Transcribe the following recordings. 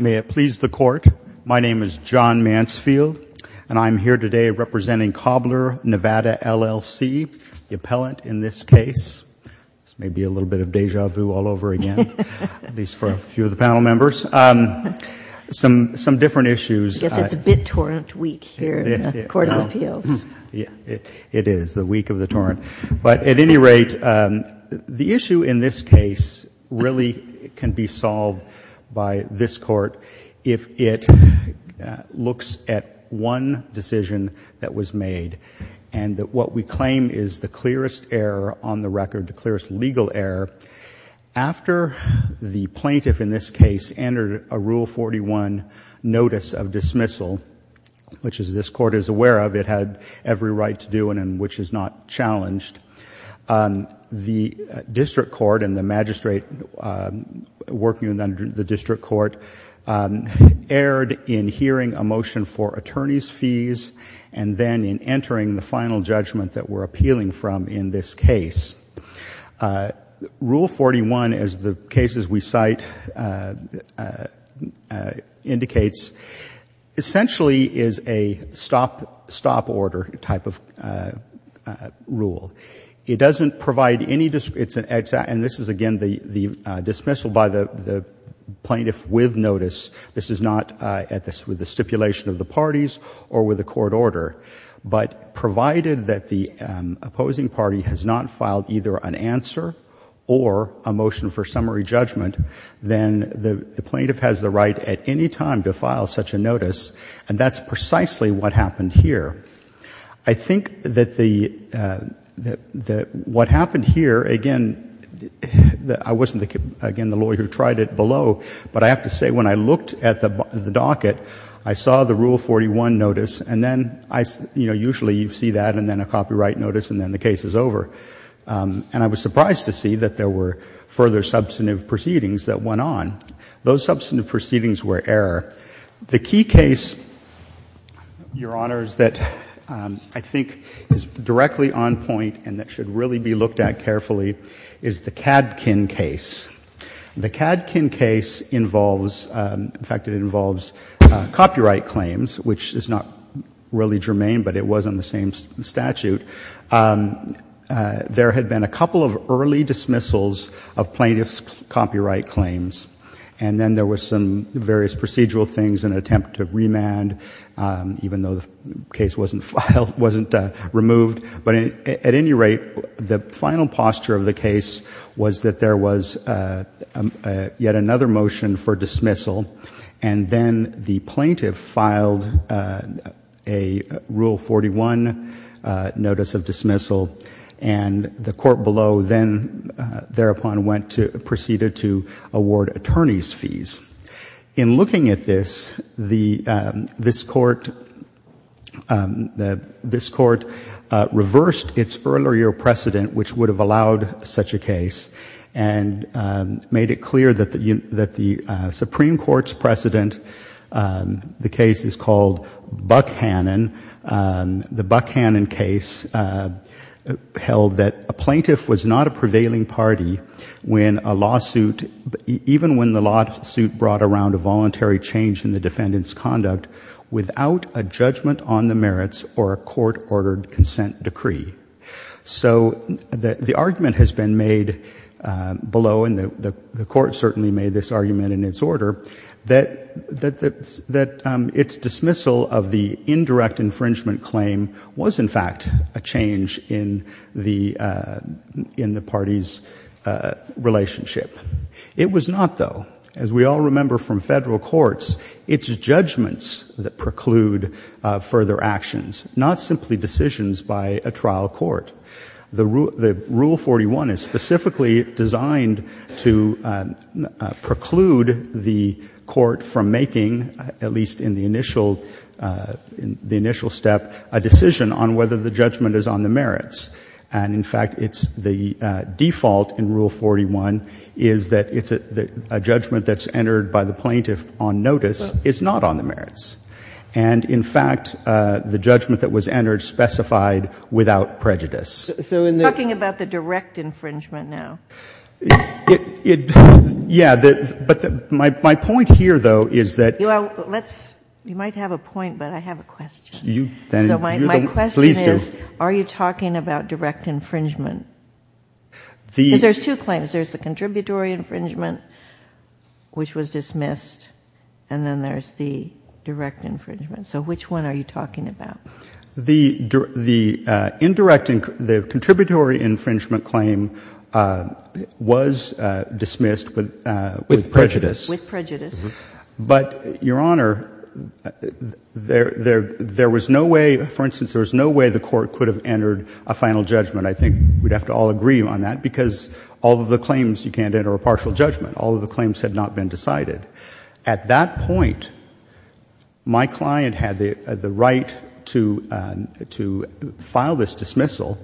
May it please the Court, my name is John Mansfield, and I'm here today representing Cobbler Nevada, LLC. The appellant in this case, this may be a little bit of deja vu all over again, at least for a few of the panel members. Some different issues. Yes, it's a bit torrent week here in the Court of Appeals. It is, the week of the torrent. But at any rate, the issue in this case really can be solved by this Court if it looks at one decision that was made, and what we claim is the clearest error on the record, the clearest legal error. After the plaintiff in this case entered a Rule 41 notice of dismissal, which this Court is aware of, it had every right to do and which is not challenged, the district court and the magistrate working under the district court erred in hearing a motion for attorney's fees and then in entering the final judgment that we're appealing from in this case. Rule 41, as the cases we cite indicates, essentially is a stop order type of rule. It doesn't provide any, and this is again the dismissal by the plaintiff with notice. This is not with the stipulation of the parties or with the court order. But provided that the opposing party has not filed either an answer or a motion for summary judgment, then the plaintiff has the right at any time to file such a notice, and that's precisely what happened here. I think that the, that what happened here, again, I wasn't, again, the lawyer who tried it below, but I have to say when I looked at the docket, I saw the Rule 41 notice and then I, you know, usually you see that and then a copyright notice and then the case is over. And I was surprised to see that there were further substantive proceedings that went on. Those substantive proceedings were error. The key case, Your Honors, that I think is directly on point and that should really be looked at carefully is the Kadkin case. The Kadkin case involves, in fact, it involves copyright claims, which is not really germane, but it was on the same statute. There had been a couple of early dismissals of plaintiff's copyright claims, and then there were some various procedural things, an attempt to remand, even though the case wasn't filed, wasn't removed. But at any rate, the final posture of the case was that there was yet another motion for dismissal and then the plaintiff filed a Rule 41 notice of dismissal and the court below then thereupon went to, proceeded to award attorney's fees. In looking at this, this court reversed its earlier precedent, which would have allowed such a case, and made it clear that the Supreme Court's precedent, the case is called Buck Hannon. The Buck Hannon case held that a plaintiff was not a prevailing party when a lawsuit, even when the lawsuit brought around a voluntary change in the defendant's conduct without a judgment on the merits or a court-ordered consent decree. So the argument has been made below, and the court certainly made this argument in its order, that its dismissal of the indirect infringement claim was, in fact, a change in the party's relationship. It was not, though. As we all remember from federal courts, it's judgments that preclude further actions, not simply decisions by a trial court. The Rule 41 is specifically designed to preclude the court from making, at least in the initial step, a decision on whether the judgment is on the merits. And in fact, it's the default in Rule 41 is that it's a judgment that's entered by the plaintiff on notice is not on the merits. And in fact, the judgment that was entered specified without prejudice. So in the — You're talking about the direct infringement now. It — yeah. But my point here, though, is that — Well, let's — you might have a point, but I have a question. So my question is, are you talking about direct infringement? Because there's two claims. There's the contributory infringement, which was dismissed, and then there's the direct infringement. So which one are you talking about? The indirect — the contributory infringement claim was dismissed with prejudice. With prejudice. But, Your Honor, there was no way — for instance, there was no way the court could have entered a final judgment. I think we'd have to all agree on that, because all of the claims you can't enter a partial judgment. All of the claims had not been decided. At that point, my client had the right to file this dismissal,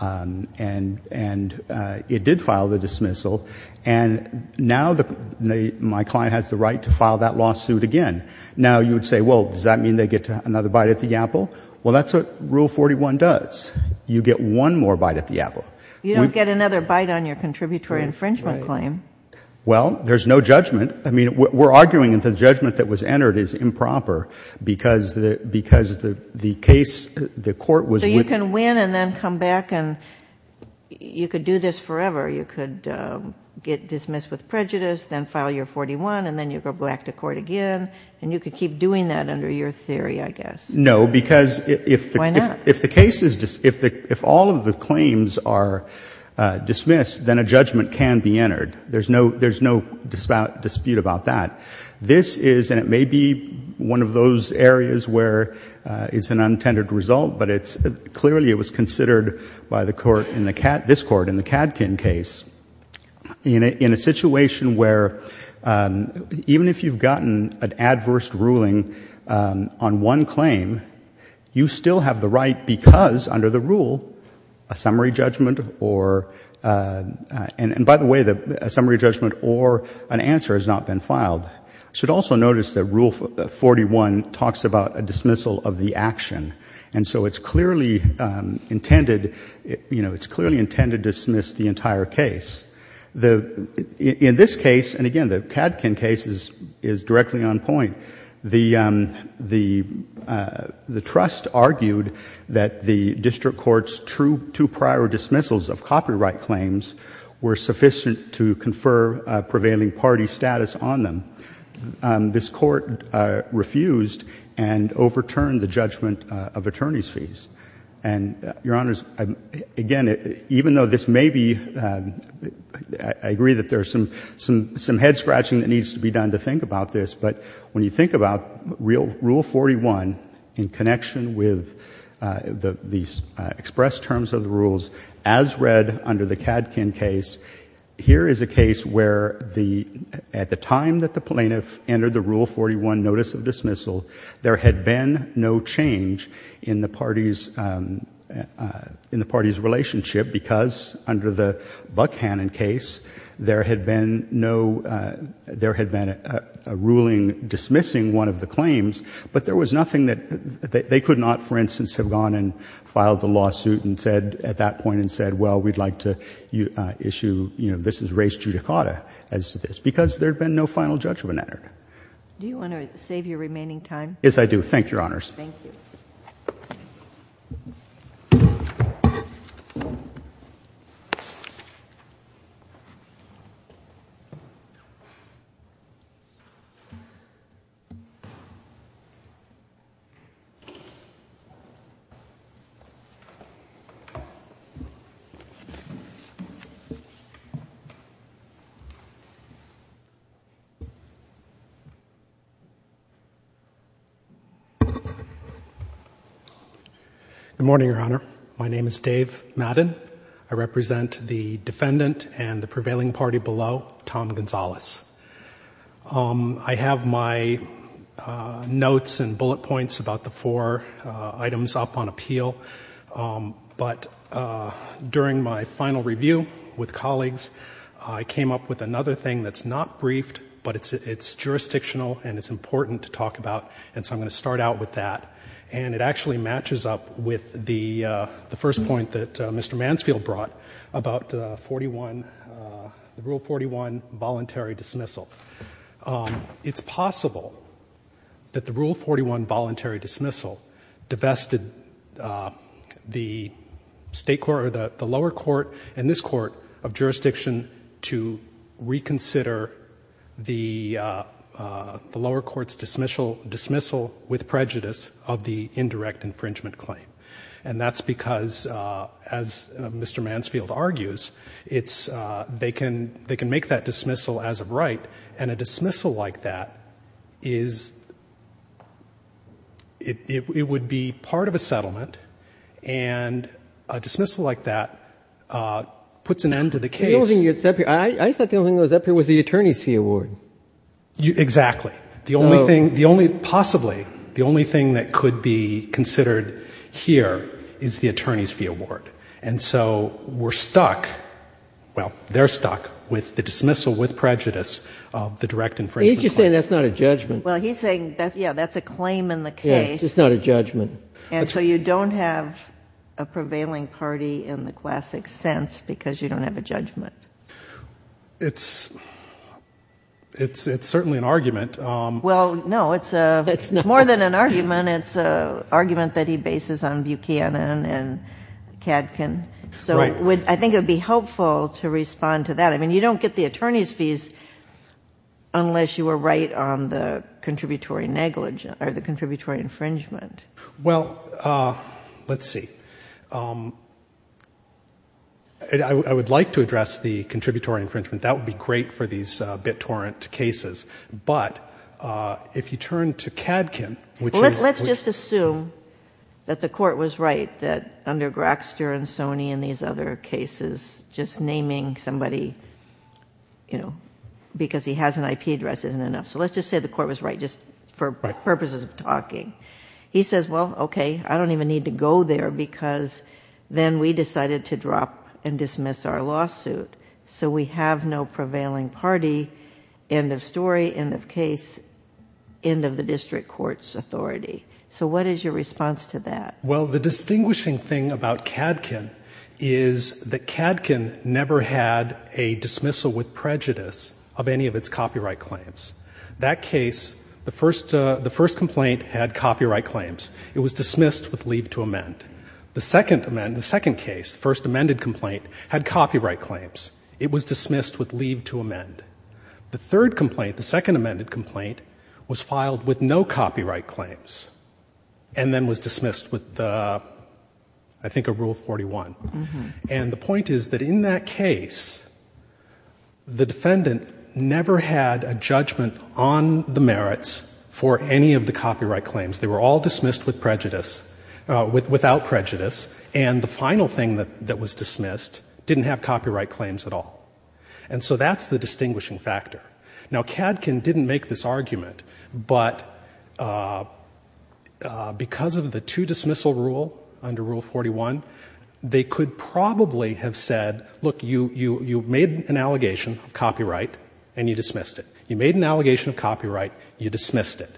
and it did file the dismissal. And now my client has the right to file that lawsuit again. Now you would say, well, does that mean they get another bite at the apple? Well, that's what Rule 41 does. You get one more bite at the apple. You don't get another bite on your contributory infringement claim. Well, there's no judgment. I mean, we're arguing that the judgment that was entered is improper because the case — the court was — So you can win and then come back and — you could do this forever. You could get dismissed with prejudice, then file your 41, and then you go back to court again. And you could keep doing that under your theory, I guess. No. Because if — Why not? If the case is — if all of the claims are dismissed, then a judgment can be entered. There's no — there's no dispute about that. This is — and it may be one of those areas where it's an untended result, but it's a — clearly, it was considered by the court in the — this Court, in the Kadkin case, in a situation where even if you've gotten an adverse ruling on one claim, you still have the right because, under the rule, a summary judgment or — and by the way, a summary judgment or an answer has not been filed. You should also notice that Rule 41 talks about a dismissal of the action. And so it's clearly intended — you know, it's clearly intended to dismiss the entire case. The — in this case, and again, the Kadkin case is directly on point, the — the trust argued that the District Court's two prior dismissals of copyright claims were sufficient to confer a prevailing party status on them. This Court refused and overturned the judgment of attorneys' fees. And Your Honors, again, even though this may be — I agree that there's some head-scratching that needs to be done to think about this, but when you think about Rule 41 in connection with the expressed terms of the rules, as read under the Kadkin case, here is a case where the — at the time that the plaintiff entered the Rule 41 notice of dismissal, there had been no change in the party's — in the party's relationship because, under the Buckhannon case, there had been no — there had been a ruling dismissing one of the claims, but there was nothing that — they could not, for instance, have gone and filed the lawsuit and said — at that point and said, well, we'd like to issue — you know, this is res judicata as to this, because there had been no final judgment entered. Do you want to save your remaining time? Yes, I do. Thank you, Your Honors. Thank you. Good morning, Your Honor. My name is Dave Madden. I represent the defendant and the prevailing party below, Tom Gonzales. I have my notes and bullet points about the four items up on appeal, but during my final review with colleagues, I came up with another thing that's not briefed, but it's jurisdictional and it's important to talk about, and so I'm going to start out with that. And it actually matches up with the first point that Mr. Mansfield brought about the 41 — the Rule 41 voluntary dismissal. It's possible that the Rule 41 voluntary dismissal divested the state court — or the lower court and this court — of jurisdiction to reconsider the lower court's dismissal with prejudice of the indirect infringement claim. And that's because, as Mr. Mansfield argues, it's — they can make that dismissal as of right, and a dismissal like that is — it would be part of a settlement, and a dismissal like that puts an end to the case. The only thing that's up here — I thought the only thing that was up here was the attorney's fee award. Exactly. So — The only thing — the only — possibly the only thing that could be considered here is the attorney's fee award. And so we're stuck — well, they're stuck with the dismissal with prejudice of the direct infringement claim. He's just saying that's not a judgment. Well, he's saying that's — yeah, that's a claim in the case. Yeah, it's not a judgment. And so you don't have a prevailing party in the classic sense because you don't have a judgment. It's — it's certainly an argument. Well, no, it's a — It's not. It's more than an argument. It's an argument that he bases on Buchanan and Kadkin. So I think it would be helpful to respond to that. I mean, you don't get the attorney's fees unless you were right on the contributory negligence — or the contributory infringement. Well, let's see. I would like to address the contributory infringement. That would be great for these BitTorrent cases. But if you turn to Kadkin, which is — Let's just assume that the court was right, that under Graxter and Sony and these other cases, just naming somebody, you know, because he has an IP address isn't enough. So let's just say the court was right just for purposes of talking. He says, well, okay, I don't even need to go there because then we decided to drop and dismiss our lawsuit. So we have no prevailing party, end of story, end of case, end of the district court's authority. So what is your response to that? Well, the distinguishing thing about Kadkin is that Kadkin never had a dismissal with copyright claims. That case, the first complaint had copyright claims. It was dismissed with leave to amend. The second case, the first amended complaint, had copyright claims. It was dismissed with leave to amend. The third complaint, the second amended complaint, was filed with no copyright claims and then was dismissed with, I think, a Rule 41. And the point is that in that case, the defendant never had a judgment on the merits for any of the copyright claims. They were all dismissed without prejudice. And the final thing that was dismissed didn't have copyright claims at all. And so that's the distinguishing factor. Now, Kadkin didn't make this argument, but because of the two-dismissal rule under Rule 41, they could probably have said, look, you made an allegation of copyright and you dismissed it. You made an allegation of copyright, you dismissed it.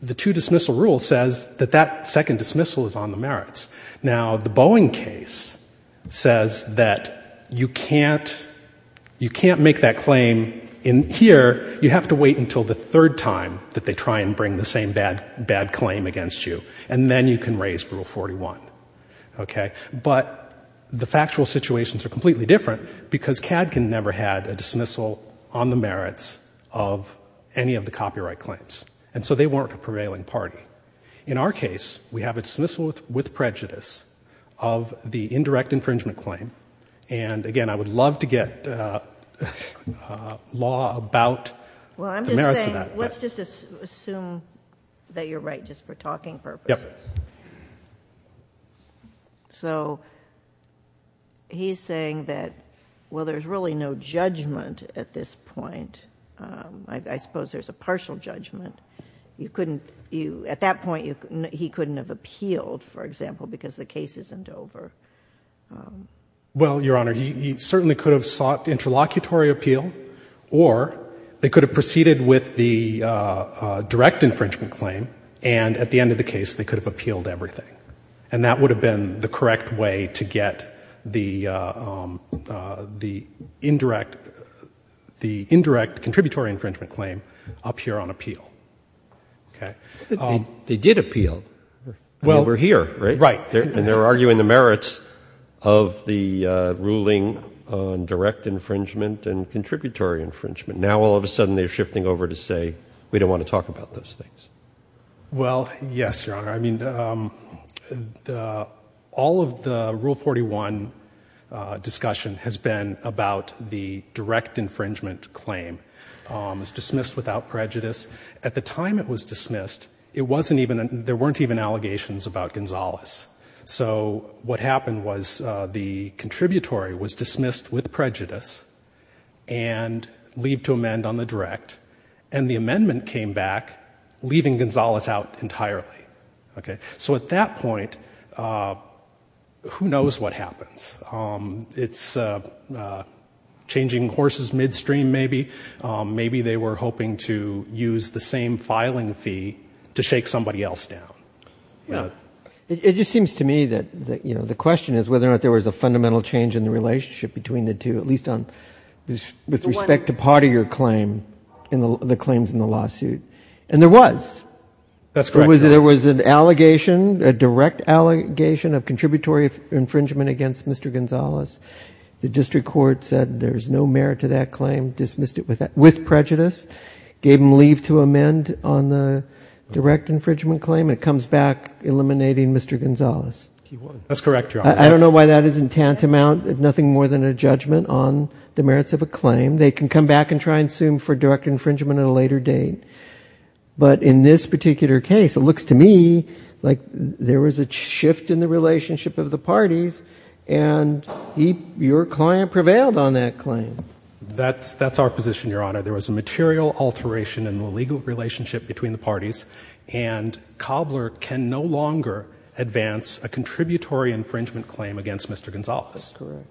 The two-dismissal rule says that that second dismissal is on the merits. Now, the Boeing case says that you can't make that claim in here. You have to wait until the third time that they try and bring the same bad claim against you. And then you can raise Rule 41. But the factual situations are completely different because Kadkin never had a dismissal on the merits of any of the copyright claims. And so they weren't a prevailing party. In our case, we have a dismissal with prejudice of the indirect infringement claim. And again, I would love to get law about the merits of that. Let's just assume that you're right just for talking purposes. So he's saying that, well, there's really no judgment at this point. I suppose there's a partial judgment. At that point, he couldn't have appealed, for example, because the case isn't over. Well, Your Honor, he certainly could have sought interlocutory appeal or they could have proceeded with the direct infringement claim. And at the end of the case, they could have appealed everything. And that would have been the correct way to get the indirect contributory infringement claim up here on appeal. They did appeal. I mean, we're here, right? Right. And they're arguing the merits of the ruling on direct infringement and contributory infringement. Now all of a sudden, they're shifting over to say, we don't want to talk about those things. Well, yes, Your Honor. I mean, all of the Rule 41 discussion has been about the direct infringement claim. It was dismissed without prejudice. At the time it was dismissed, there weren't even allegations about Gonzalez. So what happened was the contributory was dismissed with prejudice and leaved to amend on the direct. And the amendment came back, leaving Gonzalez out entirely. So at that point, who knows what happens. It's changing horses midstream, maybe. Maybe they were hoping to use the same filing fee to shake somebody else down. It just seems to me that the question is whether or not there was a fundamental change in the relationship between the two, at least with respect to part of your claim, the claims in the lawsuit. And there was. That's correct, Your Honor. There was an allegation, a direct allegation of contributory infringement against Mr. Gonzalez. The district court said there's no merit to that claim, dismissed it with prejudice, gave him leave to amend on the direct infringement claim, and it comes back eliminating Mr. Gonzalez. That's correct, Your Honor. I don't know why that isn't tantamount, nothing more than a judgment on the merits of a claim. They can come back and try and sue him for direct infringement at a later date. But in this particular case, it looks to me like there was a shift in the relationship of the parties, and your client prevailed on that claim. That's our position, Your Honor. There was a material alteration in the legal relationship between the parties, and Cobbler can no longer advance a contributory infringement claim against Mr. Gonzalez. That's correct.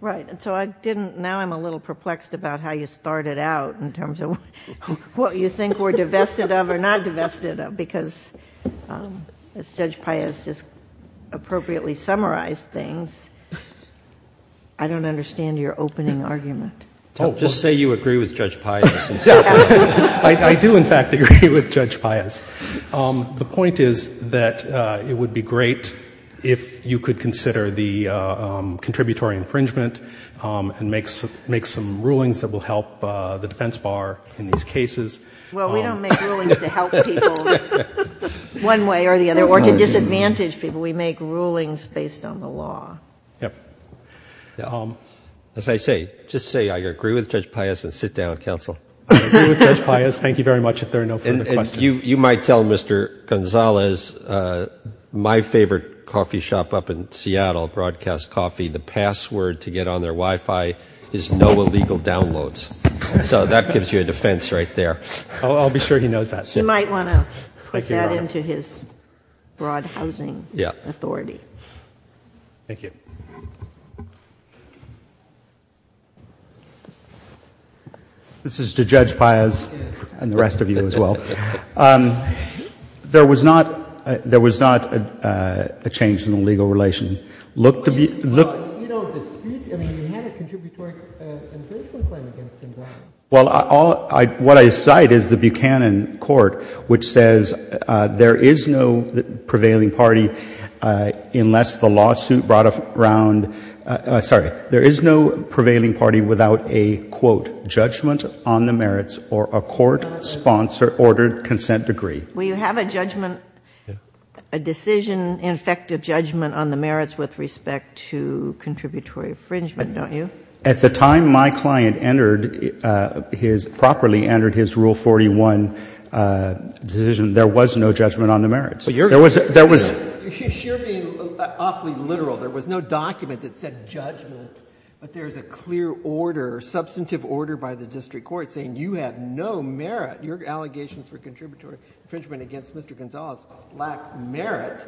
Right. And so I didn't, now I'm a little perplexed about how you started out in terms of what you think we're divested of or not divested of, because as Judge Paius just appropriately summarized things, I don't understand your opening argument. Oh, just say you agree with Judge Paius. I do, in fact, agree with Judge Paius. The point is that it would be great if you could consider the contributory infringement and make some rulings that will help the defense bar in these cases. Well, we don't make rulings to help people one way or the other or to disadvantage people. We make rulings based on the law. Yep. As I say, just say I agree with Judge Paius and sit down, counsel. I agree with Judge Paius. Thank you very much. Thank you very much. If there are no further questions. And you might tell Mr. Gonzalez, my favorite coffee shop up in Seattle, Broadcast Coffee, the password to get on their Wi-Fi is no illegal downloads. So that gives you a defense right there. I'll be sure he knows that. You might want to put that into his broad housing authority. Thank you. Thank you. This is to Judge Paius and the rest of you as well. There was not a change in the legal relation. Looked to be. Well, you don't dispute. I mean, you had a contributory infringement claim against Gonzalez. Well, what I cite is the Buchanan court which says there is no prevailing party unless the background, sorry, there is no prevailing party without a, quote, judgment on the merits or a court-sponsored ordered consent degree. Well, you have a judgment, a decision, in effect, a judgment on the merits with respect to contributory infringement, don't you? At the time my client entered his, properly entered his Rule 41 decision, there was no judgment on the merits. But you're. There was. You're being awfully literal. There was no document that said judgment, but there is a clear order, substantive order by the district court saying you have no merit. Your allegations for contributory infringement against Mr. Gonzalez lack merit.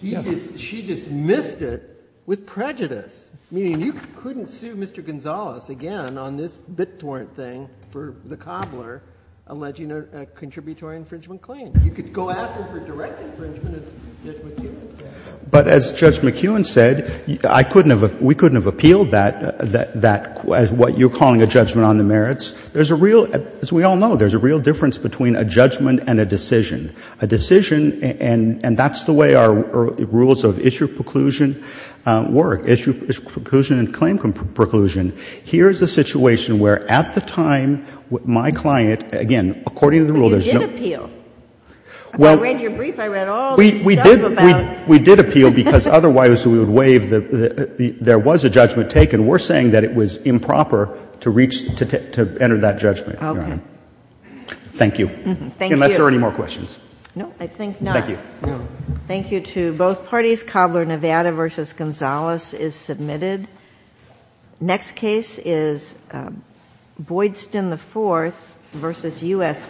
She dismissed it with prejudice, meaning you couldn't sue Mr. Gonzalez again on this BitTorrent thing for the cobbler alleging a contributory infringement claim. You could go after for direct infringement, as Judge McEwen said. But as Judge McEwen said, I couldn't have, we couldn't have appealed that, that, as what you're calling a judgment on the merits. There's a real, as we all know, there's a real difference between a judgment and a decision. A decision, and that's the way our rules of issue preclusion work, issue preclusion and claim preclusion. Here's a situation where at the time my client, again, according to the rule, there's no. And we did appeal. I read your brief, I read all this stuff about. We did appeal because otherwise we would waive the, there was a judgment taken. We're saying that it was improper to reach, to enter that judgment. Okay. Thank you. Thank you. Unless there are any more questions. No, I think not. Thank you. Thank you to both parties. Cobbler Nevada v. Gonzalez is submitted. Next case is Boydston IV v. U.S. Bank.